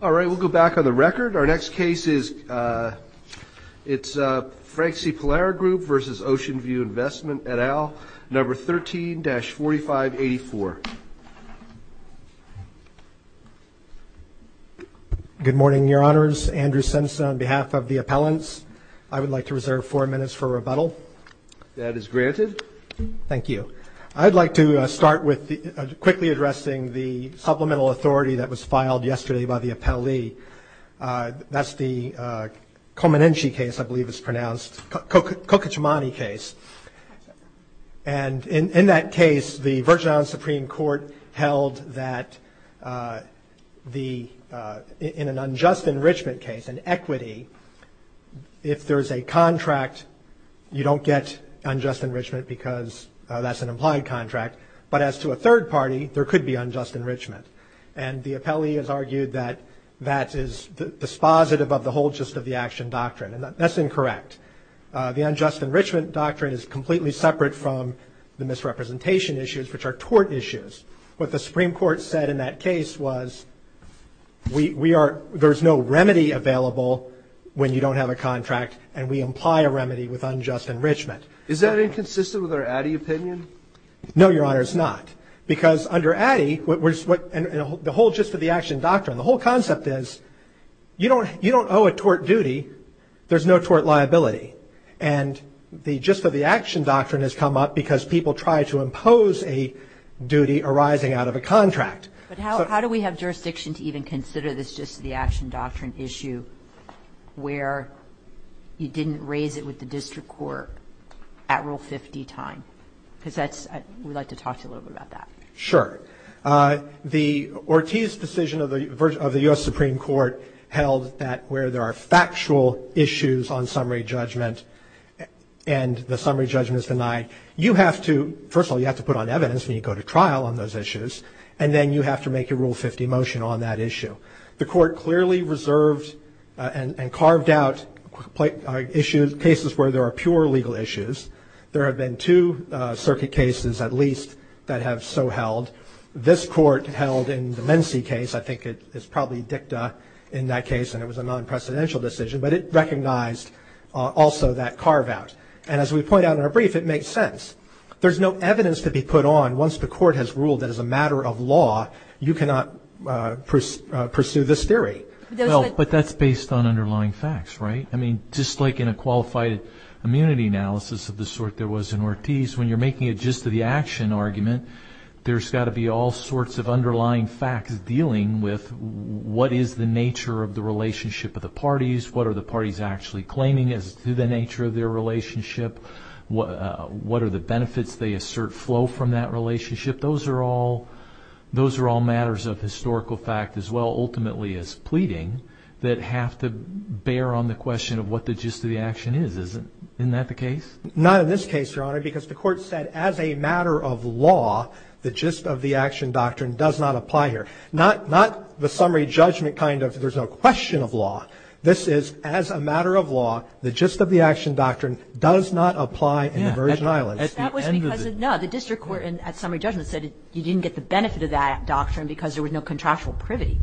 All right, we'll go back on the record. Our next case is Frank C. Polara Group v. Ocean View Investment et al. Number 13-4584. Good morning, Your Honors. Andrew Simpson on behalf of the appellants. I would like to reserve four minutes for rebuttal. That is granted. Thank you. I'd like to start with quickly addressing the supplemental authority that was filed yesterday by the appellee. That's the Komanenshi case, I believe it's pronounced, Kokichimani case. And in that case, the Virgin Island Supreme Court held that in an unjust enrichment case, an equity, if there's a contract, you don't get unjust enrichment because that's an implied contract. But as to a third party, there could be unjust enrichment. And the appellee has argued that that is dispositive of the whole gist of the action doctrine. And that's incorrect. The unjust enrichment doctrine is completely separate from the misrepresentation issues, which are tort issues. What the Supreme Court said in that case was there's no remedy available when you don't have a contract and we imply a remedy with unjust enrichment. Is that inconsistent with our Addy opinion? No, Your Honors, not. Because under Addy, the whole gist of the action doctrine, the whole concept is you don't owe a tort duty. There's no tort liability. And the gist of the action doctrine has come up because people try to impose a duty arising out of a contract. But how do we have jurisdiction to even consider this gist of the action doctrine issue where you didn't raise it with the district court at Rule 50 time? Because that's we'd like to talk to you a little bit about that. Sure. The Ortiz decision of the U.S. Supreme Court held that where there are factual issues on summary judgment and the summary judgment is denied, you have to, first of all, you have to put on evidence when you go to trial on those issues, and then you have to make a Rule 50 motion on that issue. The court clearly reserved and carved out cases where there are pure legal issues. There have been two circuit cases, at least, that have so held. This court held in the Mensee case, I think it's probably dicta in that case, and it was a non-precedential decision, but it recognized also that carve out. And as we point out in our brief, it makes sense. There's no evidence to be put on once the court has ruled that as a matter of law, you cannot pursue this theory. But that's based on underlying facts, right? I mean, just like in a qualified immunity analysis of the sort there was in Ortiz, when you're making a gist of the action argument, there's got to be all sorts of underlying facts dealing with what is the nature of the relationship of the parties, what are the parties actually claiming as to the nature of their relationship, what are the benefits they assert flow from that relationship. Those are all matters of historical fact as well, ultimately, as pleading that have to bear on the question of what the gist of the action is. Isn't that the case? Not in this case, Your Honor, because the court said as a matter of law, the gist of the action doctrine does not apply here. Not the summary judgment kind of there's no question of law. This is as a matter of law, the gist of the action doctrine does not apply in the Virgin Islands. No, the district court at summary judgment said you didn't get the benefit of that doctrine because there was no contractual privity.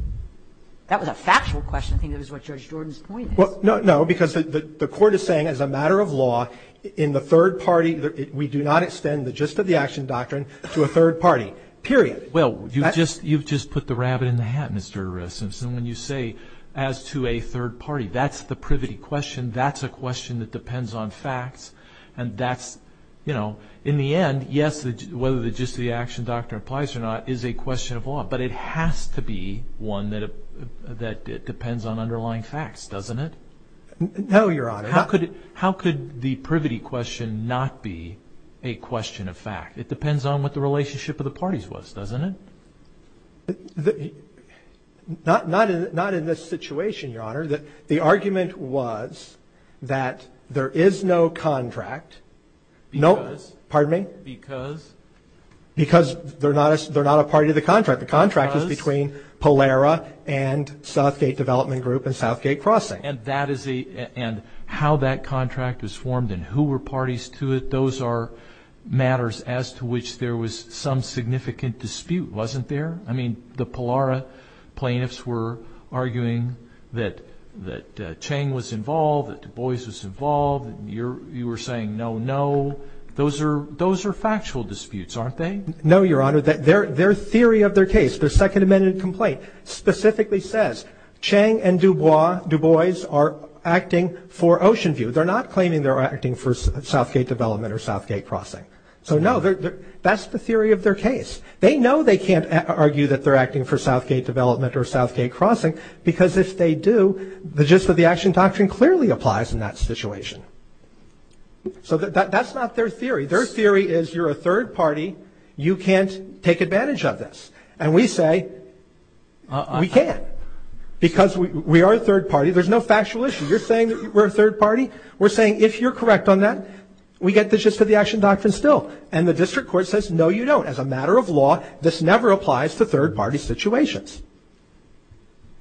That was a factual question. I think that was what Judge Jordan's point is. No, because the court is saying as a matter of law, in the third party, we do not extend the gist of the action doctrine to a third party, period. Well, you've just put the rabbit in the hat, Mr. Simpson, when you say as to a third party. That's the privity question. That's a question that depends on facts, and that's, you know, in the end, yes, whether the gist of the action doctrine applies or not is a question of law, but it has to be one that depends on underlying facts, doesn't it? No, Your Honor. How could the privity question not be a question of fact? It depends on what the relationship of the parties was, doesn't it? Not in this situation, Your Honor. The argument was that there is no contract. Because? Pardon me? Because? Because they're not a party to the contract. The contract is between Polara and Southgate Development Group and Southgate Crossing. And how that contract was formed and who were parties to it, those are matters as to which there was some significant dispute, wasn't there? I mean, the Polara plaintiffs were arguing that Chang was involved, that Du Bois was involved, and you were saying no, no. Those are factual disputes, aren't they? No, Your Honor. Their theory of their case, their Second Amendment complaint, specifically says Chang and Du Bois are acting for Oceanview. They're not claiming they're acting for Southgate Development or Southgate Crossing. So, no, that's the theory of their case. They know they can't argue that they're acting for Southgate Development or Southgate Crossing because if they do, the gist of the action doctrine clearly applies in that situation. So that's not their theory. Their theory is you're a third party. You can't take advantage of this. And we say we can't because we are a third party. There's no factual issue. You're saying that we're a third party. We're saying if you're correct on that, we get the gist of the action doctrine still. And the district court says, no, you don't. As a matter of law, this never applies to third-party situations.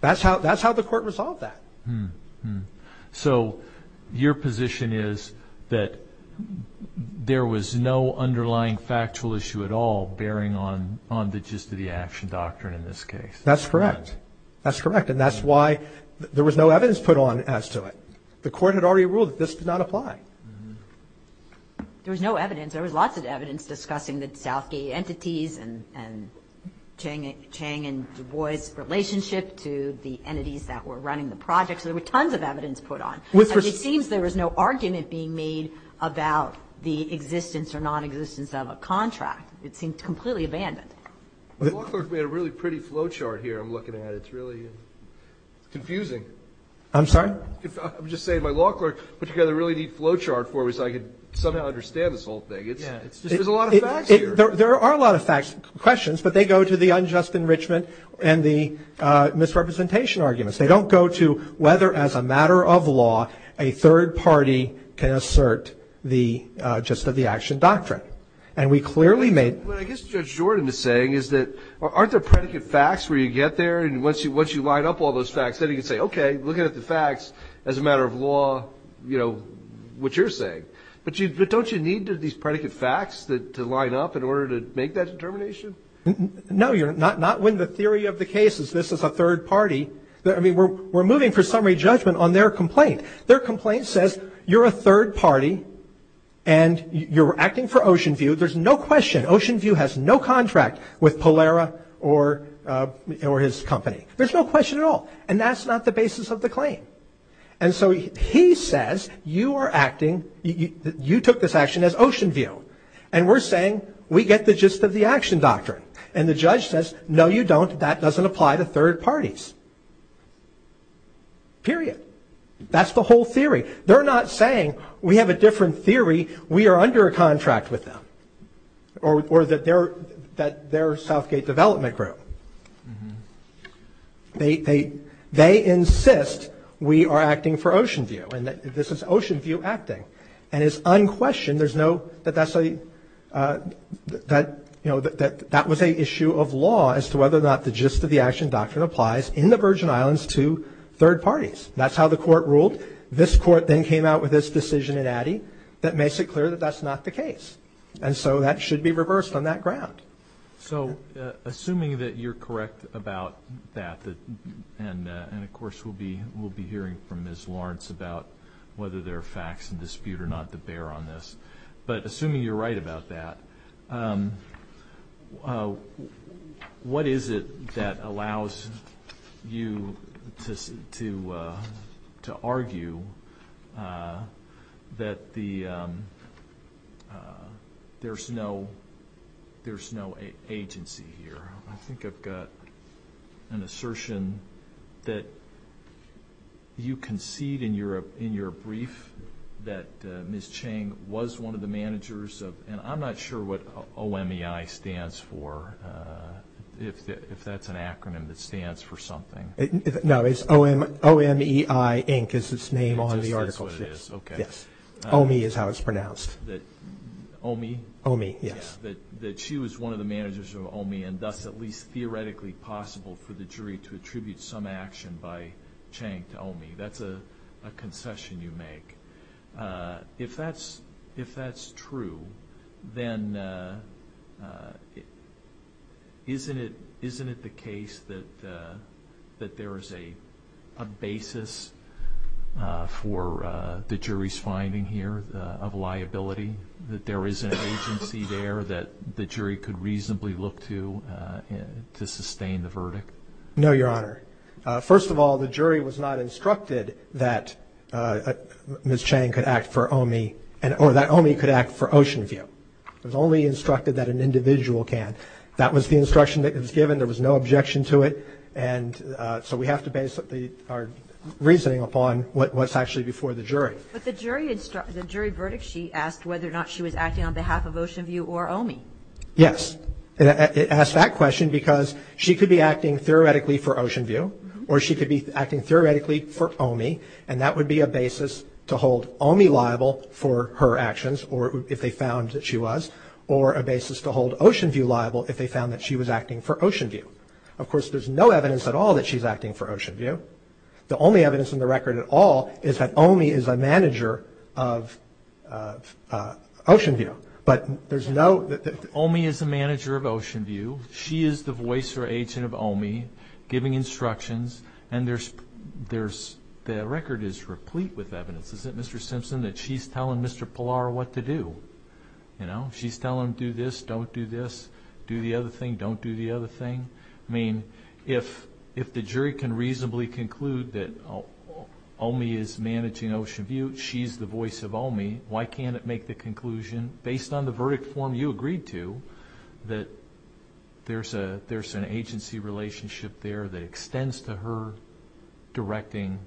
That's how the court resolved that. So your position is that there was no underlying factual issue at all bearing on the gist of the action doctrine in this case. That's correct. That's correct. And that's why there was no evidence put on as to it. The court had already ruled that this did not apply. There was no evidence. There was lots of evidence discussing the Southgate entities and Chang and Du Bois' relationship to the entities that were running the project. So there were tons of evidence put on. And it seems there was no argument being made about the existence or nonexistence of a contract. It seemed completely abandoned. The law clerk made a really pretty flowchart here I'm looking at. It's really confusing. I'm sorry? I'm just saying my law clerk put together a really neat flowchart for me so I could somehow understand this whole thing. There's a lot of facts here. There are a lot of facts, questions, but they go to the unjust enrichment and the misrepresentation arguments. They don't go to whether, as a matter of law, a third party can assert the gist of the action doctrine. And we clearly made... What I guess Judge Jordan is saying is that aren't there predicate facts where you get there and once you line up all those facts then you can say, okay, looking at the facts as a matter of law, you know, what you're saying. But don't you need these predicate facts to line up in order to make that determination? No. Not when the theory of the case is this is a third party. We're moving for summary judgment on their complaint. Their complaint says you're a third party and you're acting for Oceanview. There's no question. Oceanview has no contract with Polera or his company. There's no question at all. And that's not the basis of the claim. And so he says you are acting, you took this action as Oceanview. And we're saying we get the gist of the action doctrine. And the judge says, no, you don't. That doesn't apply to third parties. Period. That's the whole theory. They're not saying we have a different theory, we are under a contract with them. Or that they're Southgate Development Group. They insist we are acting for Oceanview. And this is Oceanview acting. And it's unquestioned there's no, that that's a, that, you know, that that was an issue of law as to whether or not the gist of the action doctrine applies in the Virgin Islands to third parties. That's how the court ruled. This court then came out with this decision in Addy that makes it clear that that's not the case. And so that should be reversed on that ground. So assuming that you're correct about that and, of course, we'll be hearing from Ms. Lawrence about whether there are facts in dispute or not to bear on this. But assuming you're right about that, what is it that allows you to argue that there's no agency here? I think I've got an assertion that you concede in your brief that Ms. Chang was one of the managers of, and I'm not sure what O-M-E-I stands for, if that's an acronym that stands for something. No, it's O-M-E-I Inc. is its name on the article. It just says what it is. Okay. Yes. O-M-E is how it's pronounced. O-M-E? O-M-E, yes. That she was one of the managers of O-M-E and thus at least theoretically possible for the jury to attribute some action by Chang to O-M-E. That's a concession you make. If that's true, then isn't it the case that there is a basis for the jury's finding here of liability, that there is an agency there that the jury could reasonably look to to sustain the verdict? No, Your Honor. First of all, the jury was not instructed that Ms. Chang could act for O-M-E, or that O-M-E could act for Oceanview. It was only instructed that an individual can. That was the instruction that was given. There was no objection to it. But the jury verdict, she asked whether or not she was acting on behalf of Oceanview or O-M-E. Yes. It asked that question because she could be acting theoretically for Oceanview, or she could be acting theoretically for O-M-E, and that would be a basis to hold O-M-E liable for her actions, or if they found that she was, or a basis to hold Oceanview liable if they found that she was acting for Oceanview. Of course, there's no evidence at all that she's acting for Oceanview. The only evidence in the record at all is that O-M-E is a manager of Oceanview. But there's no... O-M-E is a manager of Oceanview. She is the voice or agent of O-M-E, giving instructions, and the record is replete with evidence, isn't it, Mr. Simpson, that she's telling Mr. Pallar what to do? You know, she's telling him do this, don't do this, do the other thing, don't do the other thing. I mean, if the jury can reasonably conclude that O-M-E is managing Oceanview, she's the voice of O-M-E, why can't it make the conclusion, based on the verdict form you agreed to, that there's an agency relationship there that extends to her directing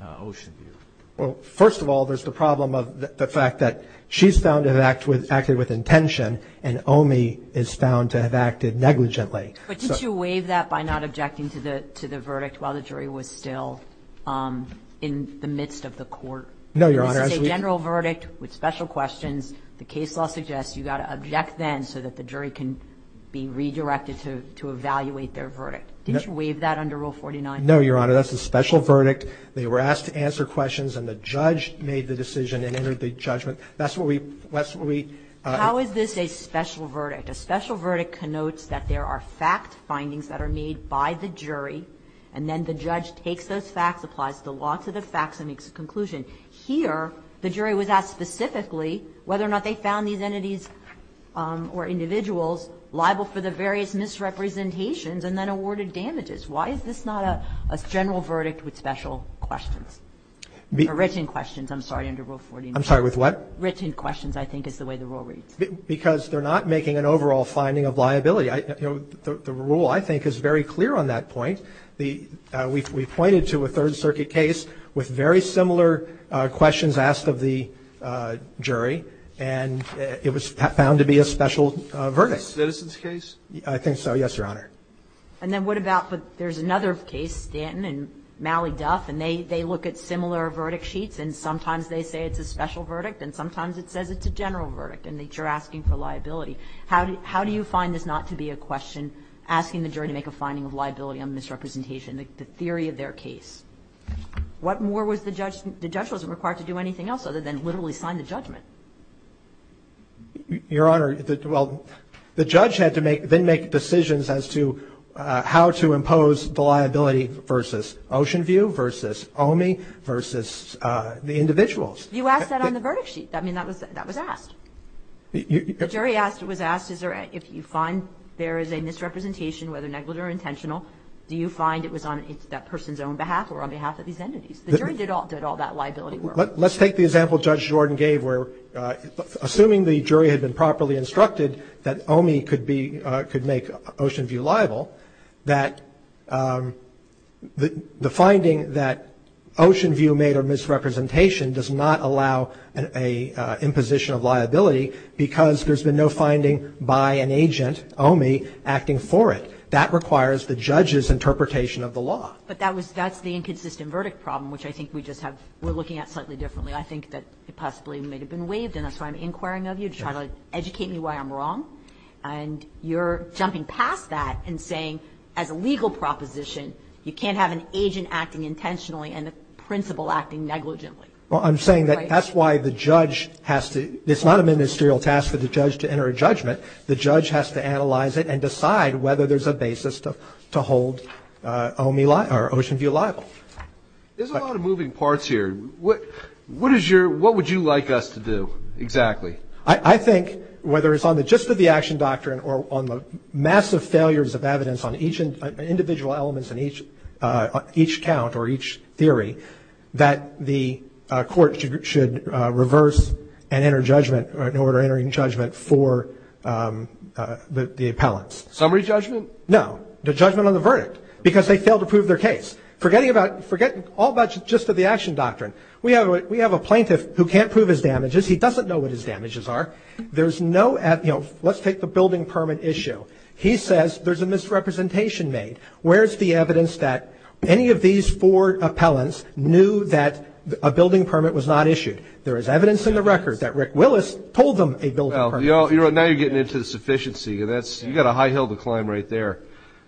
Oceanview? Well, first of all, there's the problem of the fact that she's found to have acted with intention and O-M-E is found to have acted negligently. But didn't you waive that by not objecting to the verdict while the jury was still in the midst of the court? No, Your Honor. This is a general verdict with special questions. The case law suggests you've got to object then so that the jury can be redirected to evaluate their verdict. Didn't you waive that under Rule 49? No, Your Honor. That's a special verdict. They were asked to answer questions and the judge made the decision and entered the judgment. That's what we... How is this a special verdict? A special verdict connotes that there are fact findings that are made by the jury and then the judge takes those facts, applies the law to the facts and makes a conclusion. Here, the jury was asked specifically whether or not they found these entities or individuals liable for the various misrepresentations and then awarded damages. Why is this not a general verdict with special questions? Or written questions, I'm sorry, under Rule 49. I'm sorry, with what? Written questions, I think, is the way the rule reads. Because they're not making an overall finding of liability. The rule, I think, is very clear on that point. We pointed to a Third Circuit case with very similar questions asked of the jury and it was found to be a special verdict. A citizens case? I think so, yes, Your Honor. And then what about, there's another case, Stanton and Mally Duff, and they look at similar verdict sheets and sometimes they say it's a special verdict and sometimes it says it's a general verdict and that you're asking for liability. How do you find this not to be a question asking the jury to make a finding of liability on misrepresentation, the theory of their case? What more was the judge, the judge wasn't required to do anything else other than literally sign the judgment? Your Honor, well, the judge had to make, then make decisions as to how to impose the liability versus Oceanview, versus OMI, versus the individuals. You asked that on the verdict sheet. I mean, that was asked. The jury asked, was asked is there, if you find there is a misrepresentation, whether negligent or intentional, do you find it was on that person's own behalf or on behalf of these entities? The jury did all that liability work. Let's take the example Judge Jordan gave where, assuming the jury had been properly instructed that OMI could be, could make Oceanview liable, that the finding that Oceanview made a misrepresentation does not allow an imposition of liability because there's been no finding by an agent, OMI, acting for it. That requires the judge's interpretation of the law. But that was, that's the inconsistent verdict problem, which I think we just have, we're looking at slightly differently. I think that it possibly may have been waived, and that's why I'm inquiring of you to try to educate me why I'm wrong. And you're jumping past that and saying as a legal proposition you can't have an agent acting intentionally and a principal acting negligently. Well, I'm saying that that's why the judge has to, it's not a ministerial task for the judge to enter a judgment. The judge has to analyze it and decide whether there's a basis to hold OMI liable, or Oceanview liable. There's a lot of moving parts here. What is your, what would you like us to do exactly? I think whether it's on the gist of the action doctrine or on the massive failures of evidence on each individual elements and each count or each theory, that the court should reverse and enter judgment, or in order of entering judgment for the appellants. Summary judgment? No. The judgment on the verdict. Because they failed to prove their case. Forget all about the gist of the action doctrine. We have a plaintiff who can't prove his damages. He doesn't know what his damages are. There's no, you know, let's take the building permit issue. He says there's a misrepresentation made. Where's the evidence that any of these four appellants knew that a building permit was not issued? There is evidence in the record that Rick Willis told them a building permit was not issued. Now you're getting into the sufficiency. You've got a high hill to climb right there.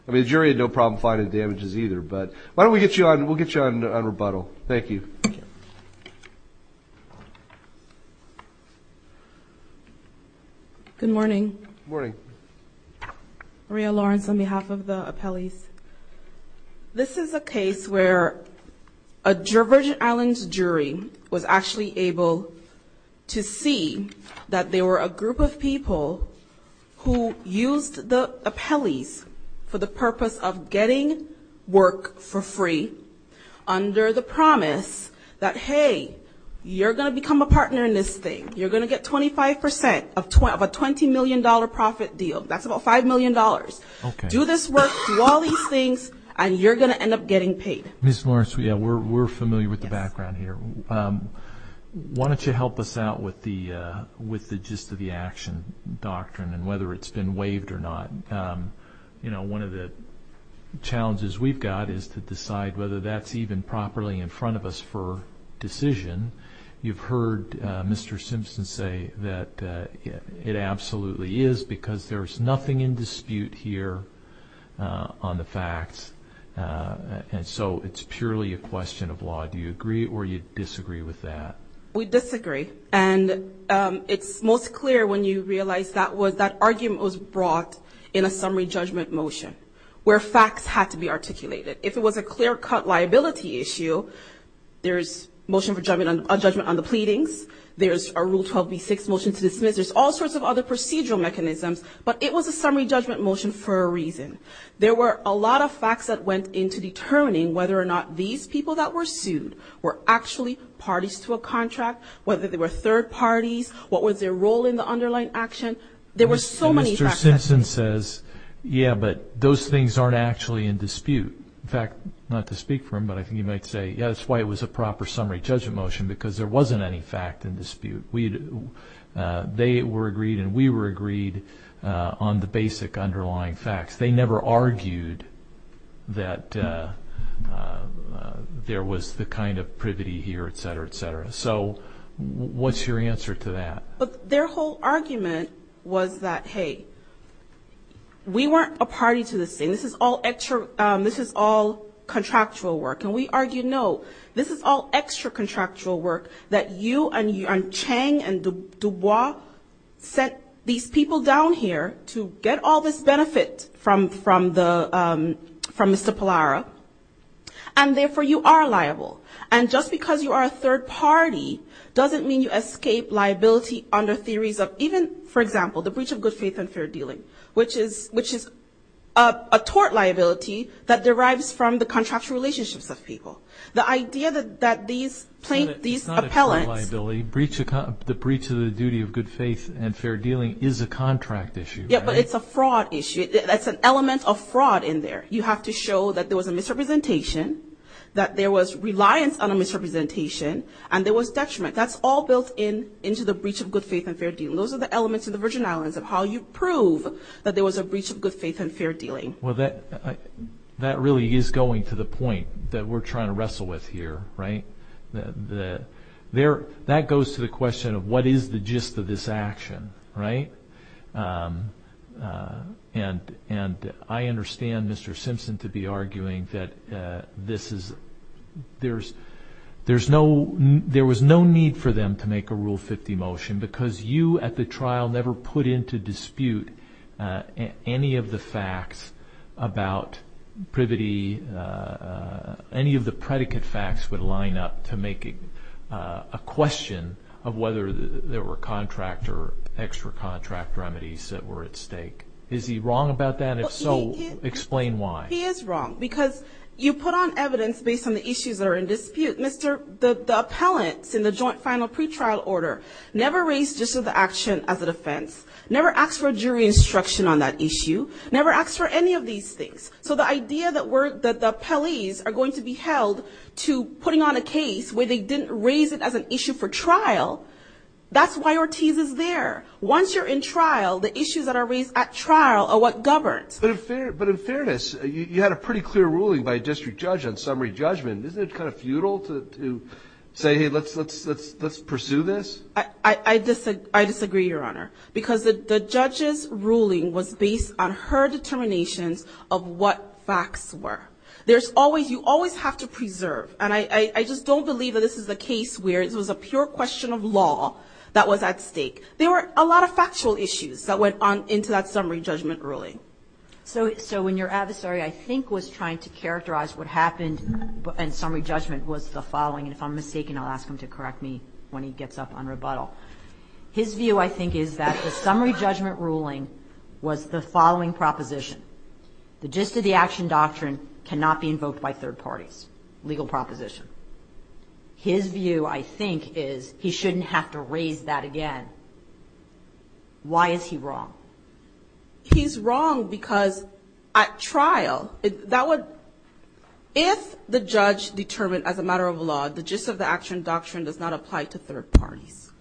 I mean, the jury had no problem finding the damages either. But why don't we get you on, we'll get you on rebuttal. Thank you. Thank you. Good morning. Good morning. Maria Lawrence on behalf of the appellees. This is a case where a Virgin Islands jury was actually able to see that there were a group of people who used the appellees for the purpose of getting work for free under the promise that, hey, you're going to become a partner in this thing. You're going to get 25 percent of a $20 million profit deal. That's about $5 million. Okay. Do this work, do all these things, and you're going to end up getting paid. Ms. Lawrence, we're familiar with the background here. Why don't you help us out with the gist of the action doctrine and whether it's been waived or not. You know, one of the challenges we've got is to decide whether that's even properly in front of us for decision. You've heard Mr. Simpson say that it absolutely is because there's nothing in dispute here on the facts, and so it's purely a question of law. Do you agree or you disagree with that? We disagree. And it's most clear when you realize that argument was brought in a summary judgment motion where facts had to be articulated. If it was a clear-cut liability issue, there's a motion for judgment on the pleadings, there's a Rule 12b-6 motion to dismiss, there's all sorts of other procedural mechanisms, but it was a summary judgment motion for a reason. There were a lot of facts that went into determining whether or not these people that were sued were actually parties to a contract, whether they were third parties, what was their role in the underlying action. There were so many facts. Mr. Simpson says, yeah, but those things aren't actually in dispute. In fact, not to speak for him, but I think he might say, yeah, that's why it was a proper summary judgment motion because there wasn't any fact in dispute. They were agreed and we were agreed on the basic underlying facts. They never argued that there was the kind of privity here, et cetera, et cetera. So what's your answer to that? But their whole argument was that, hey, we weren't a party to this thing. This is all contractual work. And we argued, no, this is all extra-contractual work that you and Chang and Dubois sent these people down here to get all this benefit from Mr. Pallara, and therefore you are liable. And just because you are a third party doesn't mean you escape liability under theories of even, for example, the breach of good faith and fair dealing, which is a tort liability that derives from the contractual relationships of people. The idea that these appellants ---- It's not a tort liability. The breach of the duty of good faith and fair dealing is a contract issue. Yeah, but it's a fraud issue. That's an element of fraud in there. You have to show that there was a misrepresentation, that there was reliance on a misrepresentation, and there was detriment. That's all built into the breach of good faith and fair dealing. Those are the elements of the Virgin Islands of how you prove that there was a breach of good faith and fair dealing. Well, that really is going to the point that we're trying to wrestle with here, right? That goes to the question of what is the gist of this action, right? And I understand Mr. Simpson to be arguing that there was no need for them to make a Rule 50 motion because you at the trial never put into dispute any of the facts about privity, any of the predicate facts would line up to make a question of whether there were contract or extra contract remedies that were at stake. Is he wrong about that? If so, explain why. He is wrong because you put on evidence based on the issues that are in dispute. The appellants in the joint final pretrial order never raised gist of the action as an offense, never asked for jury instruction on that issue, never asked for any of these things. So the idea that the appellees are going to be held to putting on a case where they didn't raise it as an issue for trial, that's why Ortiz is there. Once you're in trial, the issues that are raised at trial are what governs. But in fairness, you had a pretty clear ruling by a district judge on summary judgment. Isn't it kind of futile to say, hey, let's pursue this? I disagree, Your Honor, because the judge's ruling was based on her determinations of what facts were. There's always you always have to preserve, and I just don't believe that this is the case where it was a pure question of law that was at stake. There were a lot of factual issues that went on into that summary judgment ruling. So when your adversary, I think, was trying to characterize what happened in summary judgment was the following, and if I'm mistaken, I'll ask him to correct me when he gets up on rebuttal. His view, I think, is that the summary judgment ruling was the following proposition. The gist of the action doctrine cannot be invoked by third parties, legal proposition. His view, I think, is he shouldn't have to raise that again. Why is he wrong? He's wrong because at trial, if the judge determined as a matter of law, the gist of the action doctrine does not apply to third parties,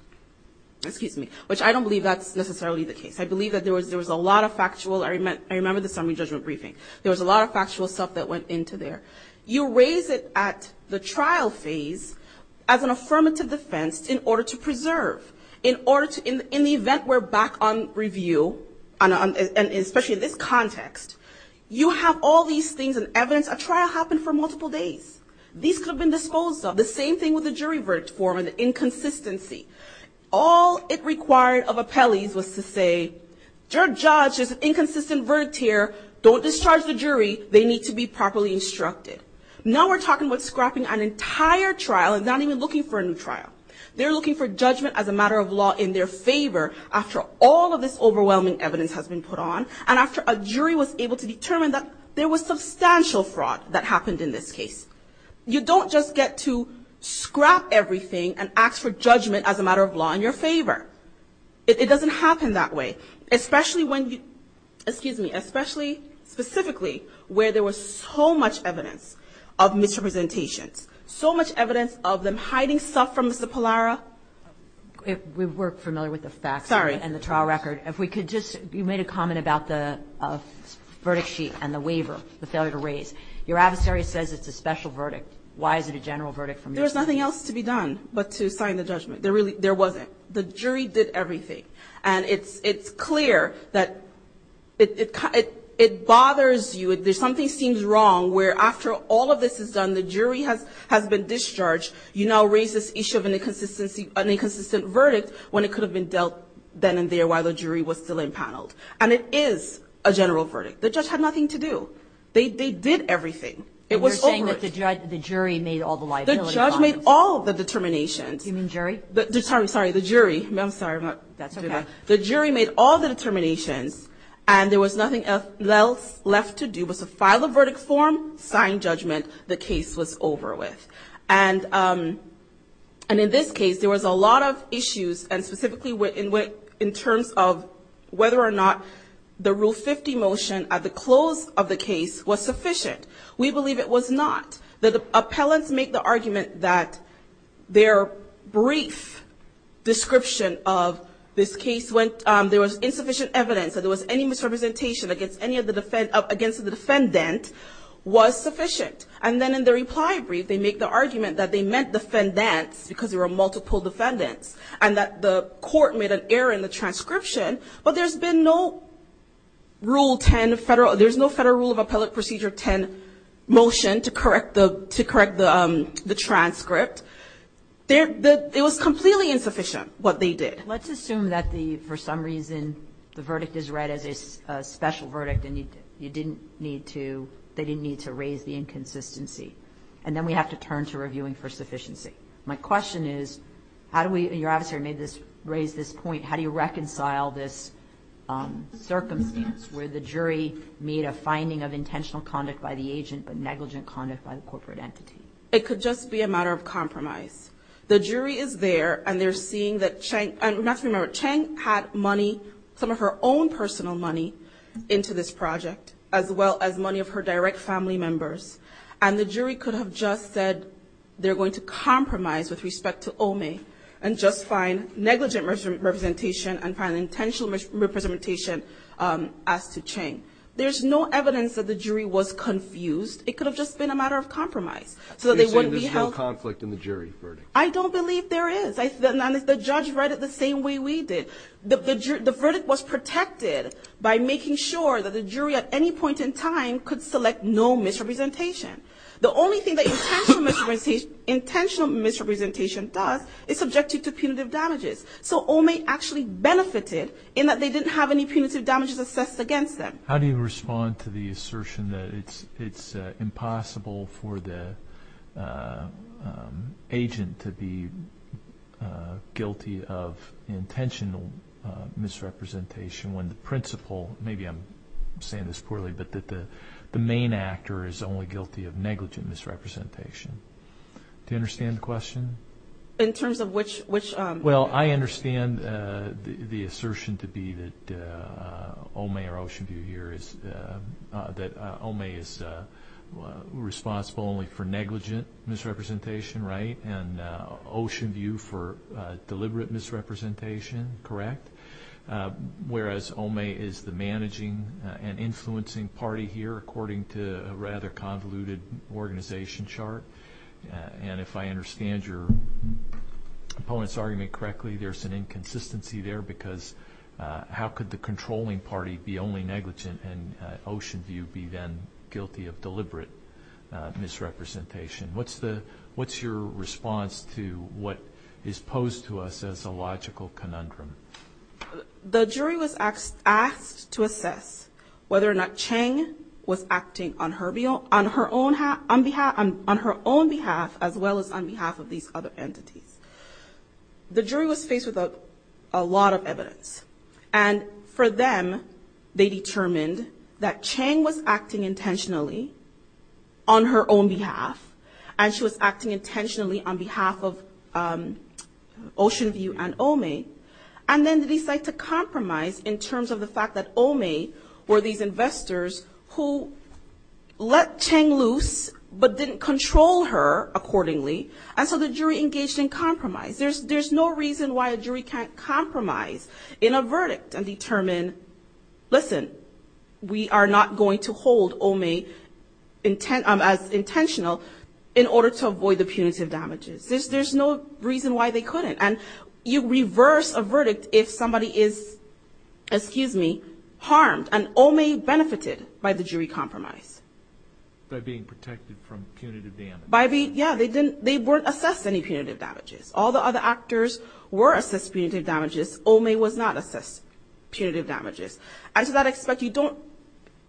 which I don't believe that's necessarily the case. I believe that there was a lot of factual. I remember the summary judgment briefing. There was a lot of factual stuff that went into there. You raise it at the trial phase as an affirmative defense in order to preserve. In the event we're back on review, and especially in this context, you have all these things and evidence. A trial happened for multiple days. These could have been disposed of. The same thing with the jury verdict form and the inconsistency. All it required of appellees was to say, your judge has an inconsistent verdict here. Don't discharge the jury. They need to be properly instructed. Now we're talking about scrapping an entire trial and not even looking for a new trial. They're looking for judgment as a matter of law in their favor after all of this overwhelming evidence has been put on, and after a jury was able to determine that there was substantial fraud that happened in this case. You don't just get to scrap everything and ask for judgment as a matter of law in your favor. It doesn't happen that way, especially when you, excuse me, especially specifically where there was so much evidence of misrepresentations, so much evidence of them hiding stuff from Mr. Pallara. We're familiar with the facts. Sorry. And the trial record. If we could just, you made a comment about the verdict sheet and the waiver, the failure to raise. Your adversary says it's a special verdict. Why is it a general verdict from your side? There's nothing else to be done but to sign the judgment. There wasn't. The jury did everything. And it's clear that it bothers you. Something seems wrong where after all of this is done, the jury has been discharged. You now raise this issue of an inconsistent verdict when it could have been dealt then and there while the jury was still impaneled. And it is a general verdict. The judge had nothing to do. They did everything. It was over. And you're saying that the jury made all the liability. The judge made all the determinations. You mean jury? Sorry, the jury. I'm sorry. That's okay. The jury made all the determinations, and there was nothing else left to do but to file a verdict form, sign judgment. The case was over with. And in this case, there was a lot of issues, and specifically in terms of whether or not the Rule 50 motion, at the close of the case, was sufficient. We believe it was not. The appellants make the argument that their brief description of this case when there was insufficient evidence, that there was any misrepresentation against the defendant, was sufficient. And then in the reply brief, they make the argument that they meant defendants because there were multiple defendants, and that the court made an error in the transcription. But there's been no Rule 10 Federal. There's no Federal Rule of Appellate Procedure 10 motion to correct the transcript. It was completely insufficient, what they did. Let's assume that, for some reason, the verdict is read as a special verdict, and they didn't need to raise the inconsistency. And then we have to turn to reviewing for sufficiency. My question is, how do we, and your adversary raised this point, how do you reconcile this circumstance where the jury made a finding of intentional conduct by the agent but negligent conduct by the corporate entity? It could just be a matter of compromise. The jury is there, and they're seeing that Cheng, and we have to remember, Cheng had money, some of her own personal money, into this project, as well as money of her direct family members. And the jury could have just said they're going to compromise with respect to Omi and just find negligent representation and find intentional representation as to Cheng. There's no evidence that the jury was confused. It could have just been a matter of compromise so that they wouldn't be held. You're saying there's no conflict in the jury verdict. I don't believe there is. And the judge read it the same way we did. The verdict was protected by making sure that the jury at any point in time could select no misrepresentation. The only thing that intentional misrepresentation does is subject you to punitive damages. So Omi actually benefited in that they didn't have any punitive damages assessed against them. How do you respond to the assertion that it's impossible for the agent to be guilty of intentional misrepresentation when the principal, maybe I'm saying this poorly, but that the main actor is only guilty of negligent misrepresentation? Do you understand the question? In terms of which? Well, I understand the assertion to be that Omi or Oceanview here is that Omi is responsible only for negligent misrepresentation, right, and Oceanview for deliberate misrepresentation, correct, whereas Omi is the managing and influencing party here according to a rather convoluted organization chart. And if I understand your opponent's argument correctly, there's an inconsistency there because how could the controlling party be only negligent and Oceanview be then guilty of deliberate misrepresentation? What's your response to what is posed to us as a logical conundrum? The jury was asked to assess whether or not Chang was acting on her own behalf as well as on behalf of these other entities. The jury was faced with a lot of evidence, and for them, they determined that Chang was acting intentionally on her own behalf, and she was acting intentionally on behalf of Oceanview and Omi, and then they decide to compromise in terms of the fact that Omi were these investors who let Chang loose but didn't control her accordingly, and so the jury engaged in compromise. There's no reason why a jury can't compromise in a verdict and determine, listen, we are not going to hold Omi as intentional in order to avoid the punitive damages. There's no reason why they couldn't. And you reverse a verdict if somebody is, excuse me, harmed and Omi benefited by the jury compromise. By being protected from punitive damage. By being, yeah, they weren't assessed any punitive damages. All the other actors were assessed punitive damages. Omi was not assessed punitive damages. And so that I expect you don't,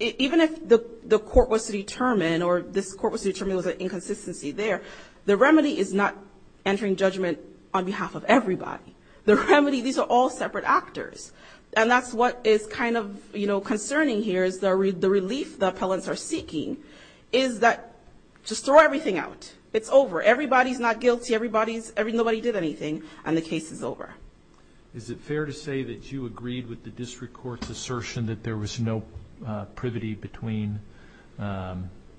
even if the court was to determine or this court was to determine there was an inconsistency there, the remedy is not entering judgment on behalf of everybody. The remedy, these are all separate actors, and that's what is kind of, you know, concerning here is the relief the appellants are seeking is that just throw everything out. It's over. Everybody's not guilty. Everybody's, nobody did anything, and the case is over. Is it fair to say that you agreed with the district court's assertion that there was no privity between, that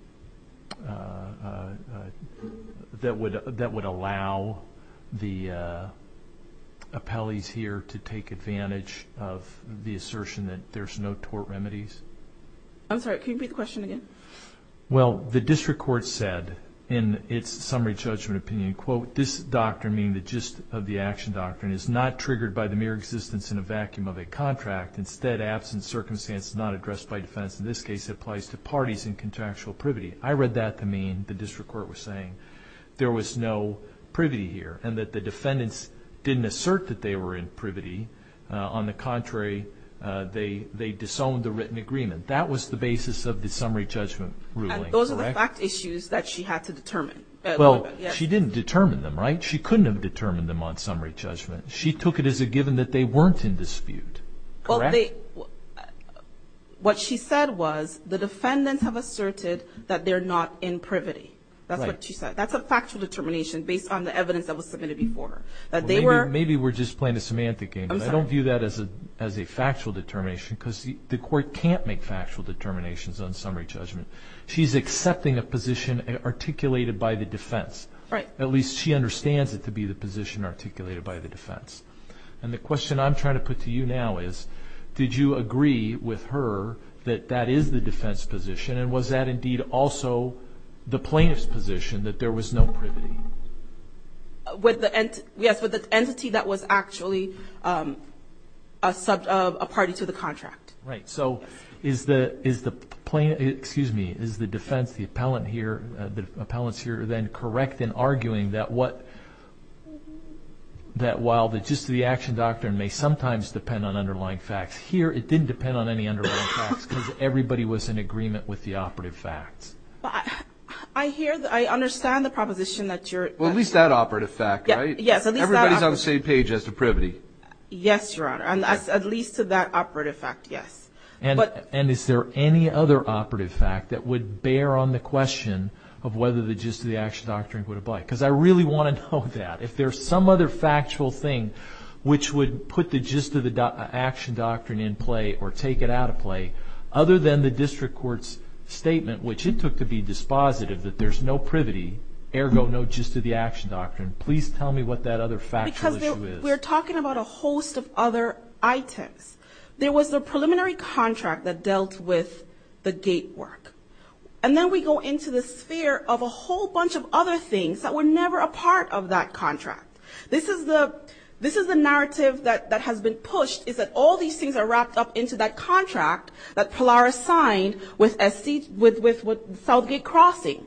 would allow the appellees here to take advantage of the assertion that there's no tort remedies? I'm sorry, can you repeat the question again? Well, the district court said in its summary judgment opinion, quote, this doctrine, meaning the gist of the action doctrine, is not triggered by the mere existence in a vacuum of a contract. Instead, absent circumstances not addressed by defendants in this case, it applies to parties in contractual privity. I read that to mean the district court was saying there was no privity here and that the defendants didn't assert that they were in privity. On the contrary, they disowned the written agreement. That was the basis of the summary judgment ruling, correct? Those are the fact issues that she had to determine. Well, she didn't determine them, right? She couldn't have determined them on summary judgment. She took it as a given that they weren't in dispute, correct? What she said was the defendants have asserted that they're not in privity. That's what she said. That's a factual determination based on the evidence that was submitted before her. Maybe we're just playing a semantic game. I'm sorry. I view that as a factual determination because the court can't make factual determinations on summary judgment. She's accepting a position articulated by the defense. At least she understands it to be the position articulated by the defense. And the question I'm trying to put to you now is, did you agree with her that that is the defense position, and was that indeed also the plaintiff's position that there was no privity? Yes, with the entity that was actually a party to the contract. Right. So is the defense, the appellant here, the appellants here, then correct in arguing that while just the action doctrine may sometimes depend on underlying facts here, it didn't depend on any underlying facts because everybody was in agreement with the operative facts? I understand the proposition that you're— Well, at least that operative fact, right? Yes, at least that operative fact. Everybody's on the same page as to privity. Yes, Your Honor. At least to that operative fact, yes. And is there any other operative fact that would bear on the question of whether the gist of the action doctrine would apply? Because I really want to know that. If there's some other factual thing which would put the gist of the action doctrine in play or take it out of play, other than the district court's statement, which it took to be dispositive that there's no privity, ergo no gist of the action doctrine, please tell me what that other factual issue is. Because we're talking about a host of other items. There was the preliminary contract that dealt with the gate work. And then we go into the sphere of a whole bunch of other things that were never a part of that contract. This is the narrative that has been pushed, is that all these things are wrapped up into that contract that Polaris signed with Southgate Crossing.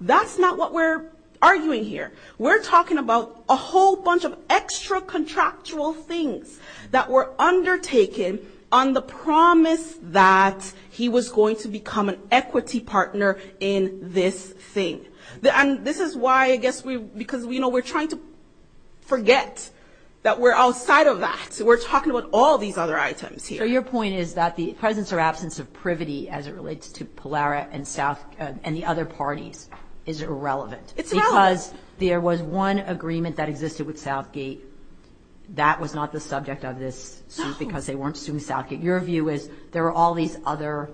That's not what we're arguing here. We're talking about a whole bunch of extra-contractual things that were undertaken on the promise that he was going to become an equity partner in this thing. And this is why, I guess, because we're trying to forget that we're outside of that. We're talking about all these other items here. So your point is that the presence or absence of privity as it relates to Polaris and the other parties is irrelevant. It's irrelevant. Because there was one agreement that existed with Southgate that was not the subject of this suit because they weren't suing Southgate. Your view is there were all these other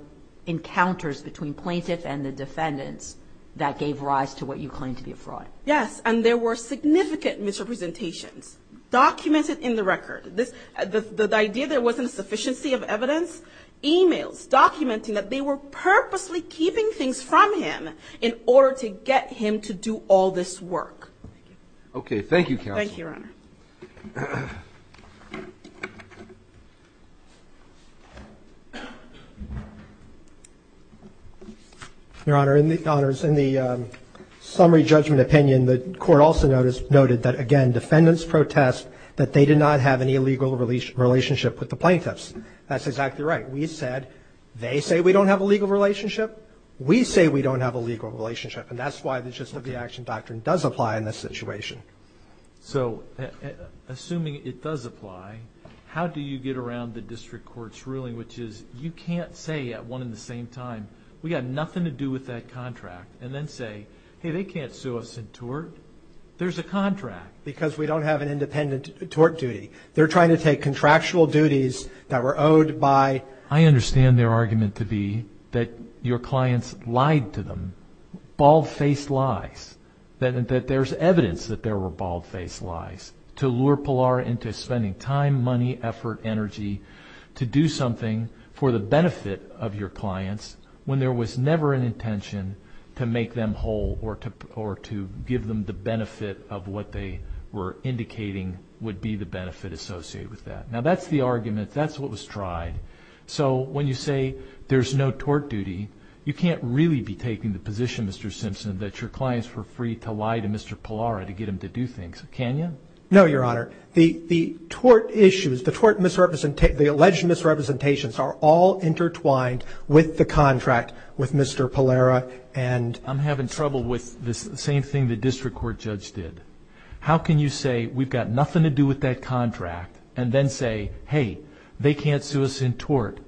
encounters between plaintiffs and the defendants that gave rise to what you claim to be a fraud. Yes, and there were significant misrepresentations documented in the record. The idea there wasn't a sufficiency of evidence, e-mails documenting that they were purposely keeping things from him in order to get him to do all this work. Okay. Thank you, Counsel. Thank you, Your Honor. Your Honor, in the summary judgment opinion, the court also noted that, again, defendants protest that they did not have any legal relationship with the plaintiffs. That's exactly right. We said they say we don't have a legal relationship. We say we don't have a legal relationship. And that's why the gist of the action doctrine does apply in this situation. So assuming it does apply, how do you get around the district court's ruling, which is you can't say at one and the same time, we have nothing to do with that contract, and then say, hey, they can't sue us in tort. There's a contract. Because we don't have an independent tort duty. They're trying to take contractual duties that were owed by. I understand their argument to be that your clients lied to them, bald-faced lies, that there's evidence that there were bald-faced lies to lure Pilar into spending time, money, effort, energy, to do something for the benefit of your clients when there was never an intention to make them whole or to give them the benefit of what they were indicating would be the benefit associated with that. Now, that's the argument. That's what was tried. So when you say there's no tort duty, you can't really be taking the position, Mr. Simpson, that your clients were free to lie to Mr. Pilar to get him to do things. Can you? No, Your Honor. The tort issues, the tort misrepresentations, the alleged misrepresentations are all intertwined with the contract with Mr. Pilar and... I'm having trouble with the same thing the district court judge did. How can you say we've got nothing to do with that contract and then say, hey, they can't sue us in tort?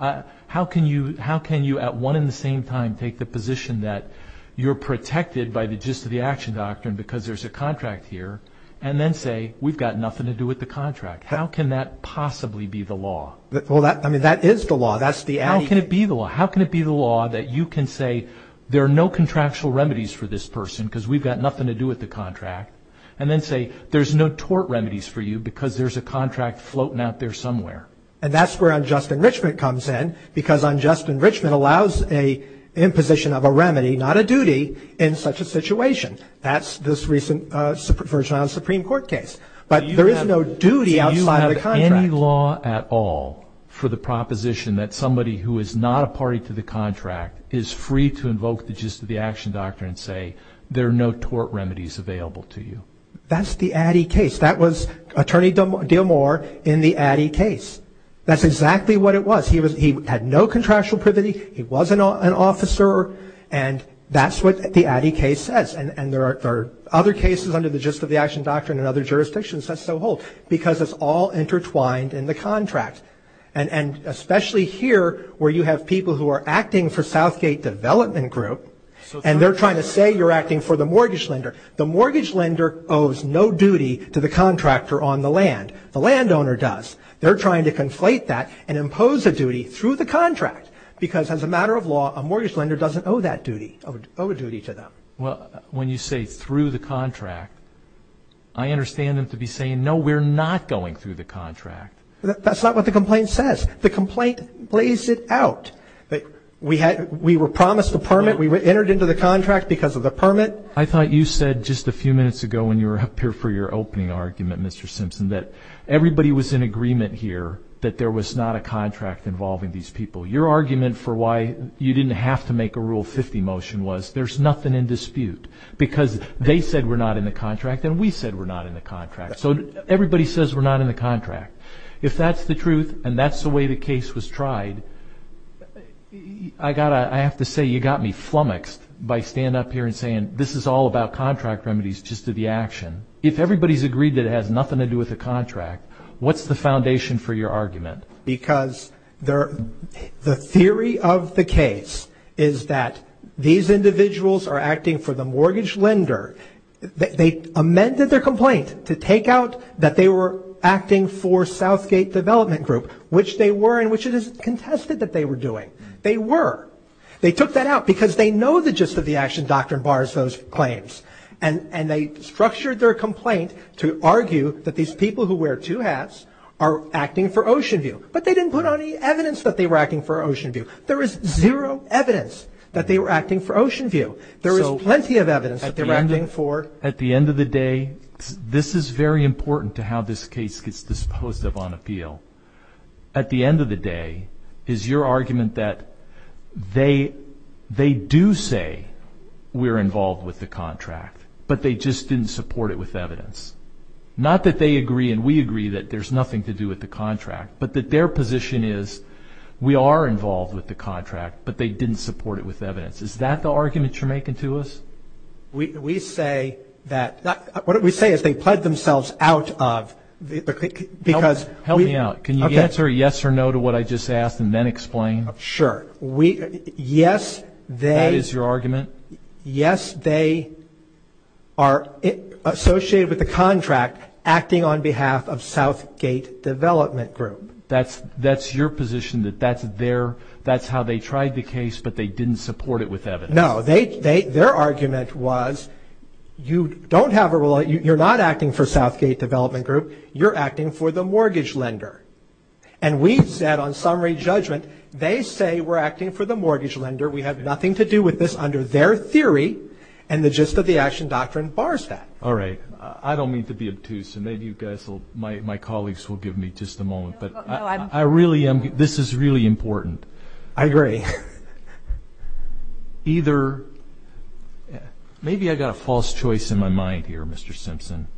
How can you at one and the same time take the position that you're protected by the gist of the action doctrine because there's a contract here and then say we've got nothing to do with the contract? How can that possibly be the law? Well, that is the law. How can it be the law? How can it be the law that you can say there are no contractual remedies for this person because we've got nothing to do with the contract and then say there's no tort remedies for you because there's a contract floating out there somewhere? And that's where unjust enrichment comes in because unjust enrichment allows an imposition of a remedy, not a duty, in such a situation. That's this recent version of the Supreme Court case. But there is no duty outside of the contract. Do you have any law at all for the proposition that somebody who is not a party to the contract is free to invoke the gist of the action doctrine and say there are no tort remedies available to you? That's the Addy case. That was Attorney D'Amour in the Addy case. That's exactly what it was. He had no contractual privity. He was an officer. And that's what the Addy case says. And there are other cases under the gist of the action doctrine in other jurisdictions that so hold because it's all intertwined in the contract, and especially here where you have people who are acting for Southgate Development Group and they're trying to say you're acting for the mortgage lender. The mortgage lender owes no duty to the contractor on the land. The landowner does. They're trying to conflate that and impose a duty through the contract because, as a matter of law, a mortgage lender doesn't owe that duty, owe a duty to them. Well, when you say through the contract, I understand them to be saying, no, we're not going through the contract. That's not what the complaint says. The complaint lays it out. We were promised a permit. We entered into the contract because of the permit. I thought you said just a few minutes ago when you were up here for your opening argument, Mr. Simpson, that everybody was in agreement here that there was not a contract involving these people. Your argument for why you didn't have to make a Rule 50 motion was there's nothing in dispute because they said we're not in the contract and we said we're not in the contract. So everybody says we're not in the contract. If that's the truth and that's the way the case was tried, I have to say you got me flummoxed by standing up here and saying this is all about contract remedies just to the action. If everybody's agreed that it has nothing to do with the contract, what's the foundation for your argument? Because the theory of the case is that these individuals are acting for the mortgage lender. They amended their complaint to take out that they were acting for Southgate Development Group, which they were and which it is contested that they were doing. They were. They took that out because they know the gist of the action doctrine bars those claims. And they structured their complaint to argue that these people who wear two hats are acting for Oceanview. But they didn't put on any evidence that they were acting for Oceanview. There is zero evidence that they were acting for Oceanview. There is plenty of evidence that they were acting for. At the end of the day, this is very important to how this case gets disposed of on appeal. At the end of the day, is your argument that they do say we're involved with the contract, but they just didn't support it with evidence? Not that they agree and we agree that there's nothing to do with the contract, but that their position is we are involved with the contract, but they didn't support it with evidence. Is that the argument you're making to us? We say that, what we say is they pled themselves out of, because. Help me out. Can you answer yes or no to what I just asked and then explain? Sure. Yes, they. That is your argument? Yes, they are associated with the contract acting on behalf of Southgate Development Group. That's your position that that's their, that's how they tried the case, but they didn't support it with evidence? No, their argument was you don't have a, you're not acting for Southgate Development Group, you're acting for the mortgage lender, and we've said on summary judgment, they say we're acting for the mortgage lender, we have nothing to do with this under their theory, and the gist of the action doctrine bars that. All right. I don't mean to be obtuse, and maybe you guys will, my colleagues will give me just a moment, but I really am, this is really important. I agree. Either, maybe I've got a false choice in my mind here, Mr. Simpson,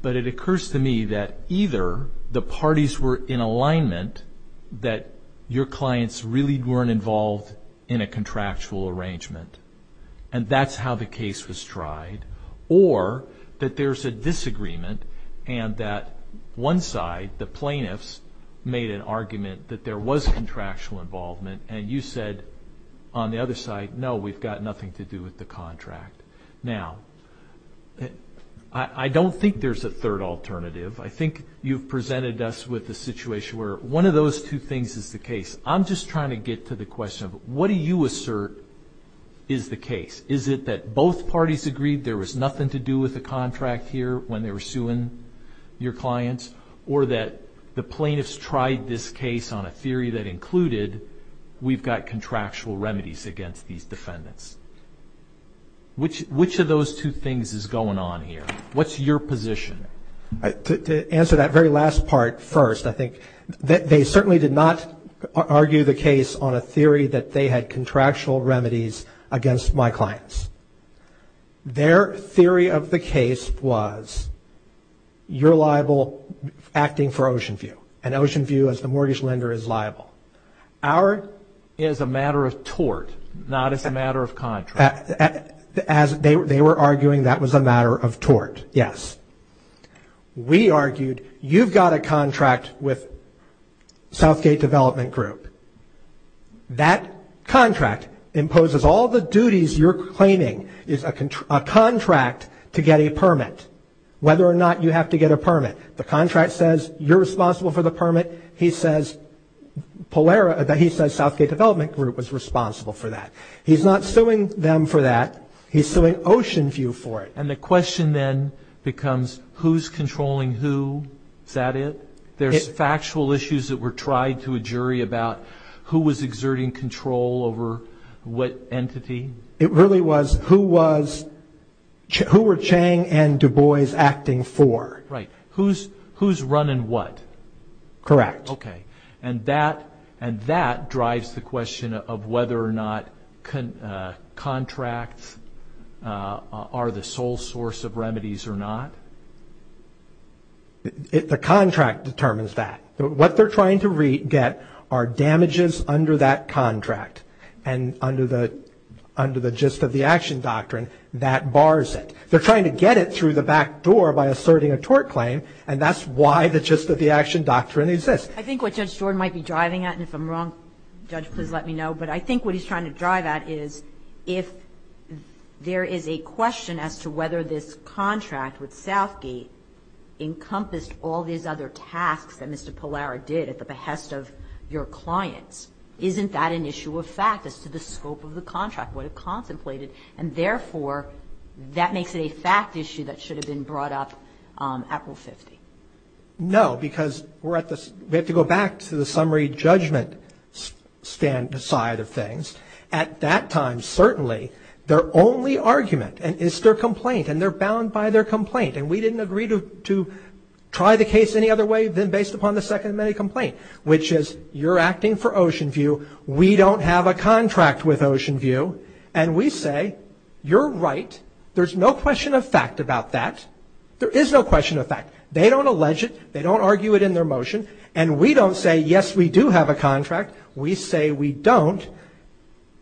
but it occurs to me that either the parties were in alignment that your clients really weren't involved in a contractual arrangement, and that's how the case was tried, or that there's a disagreement and that one side, the plaintiffs, made an argument that there was contractual involvement, and you said on the other side, no, we've got nothing to do with the contract. Now, I don't think there's a third alternative. I think you've presented us with a situation where one of those two things is the case. I'm just trying to get to the question of what do you assert is the case? Is it that both parties agreed there was nothing to do with the contract here when they were suing your clients, or that the plaintiffs tried this case on a theory that included we've got contractual remedies against these defendants? Which of those two things is going on here? What's your position? To answer that very last part first, I think, they certainly did not argue the case on a theory that they had contractual remedies against my clients. Their theory of the case was you're liable acting for Oceanview, and Oceanview as the mortgage lender is liable. Ours is a matter of tort, not as a matter of contract. They were arguing that was a matter of tort, yes. We argued you've got a contract with Southgate Development Group. That contract imposes all the duties you're claiming is a contract to get a permit, whether or not you have to get a permit. The contract says you're responsible for the permit. He says Southgate Development Group was responsible for that. He's not suing them for that. He's suing Oceanview for it. And the question then becomes who's controlling who? Is that it? There's factual issues that were tried to a jury about who was exerting control over what entity? It really was who were Chang and Du Bois acting for? Right. Who's running what? Correct. Okay. And that drives the question of whether or not contracts are the sole source of remedies or not? The contract determines that. What they're trying to get are damages under that contract and under the gist of the action doctrine that bars it. They're trying to get it through the back door by asserting a tort claim, and that's why the gist of the action doctrine exists. I think what Judge Jordan might be driving at, and if I'm wrong, Judge, please let me know, but I think what he's trying to drive at is if there is a question as to whether this contract with Southgate encompassed all these other tasks that Mr. Pallara did at the behest of your clients, isn't that an issue of fact as to the scope of the contract, what it contemplated? And, therefore, that makes it a fact issue that should have been brought up at Rule 50. No, because we have to go back to the summary judgment side of things. At that time, certainly, their only argument is their complaint, and they're bound by their complaint, and we didn't agree to try the case any other way than based upon the second minute complaint, which is you're acting for Oceanview, we don't have a contract with Oceanview, and we say you're right, there's no question of fact about that, there is no question of fact. They don't allege it, they don't argue it in their motion, and we don't say, yes, we do have a contract, we say we don't,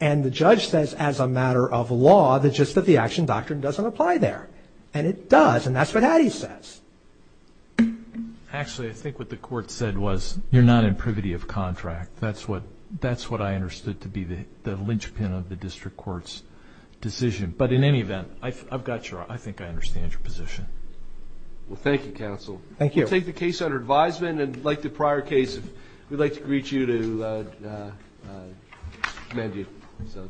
and the judge says as a matter of law that just the action doctrine doesn't apply there, and it does, and that's what Hattie says. Actually, I think what the court said was you're not in privity of contract. That's what I understood to be the linchpin of the district court's decision. But, in any event, I think I understand your position. Well, thank you, counsel. Thank you. We'll take the case under advisement, and like the prior case, we'd like to greet you to amend you.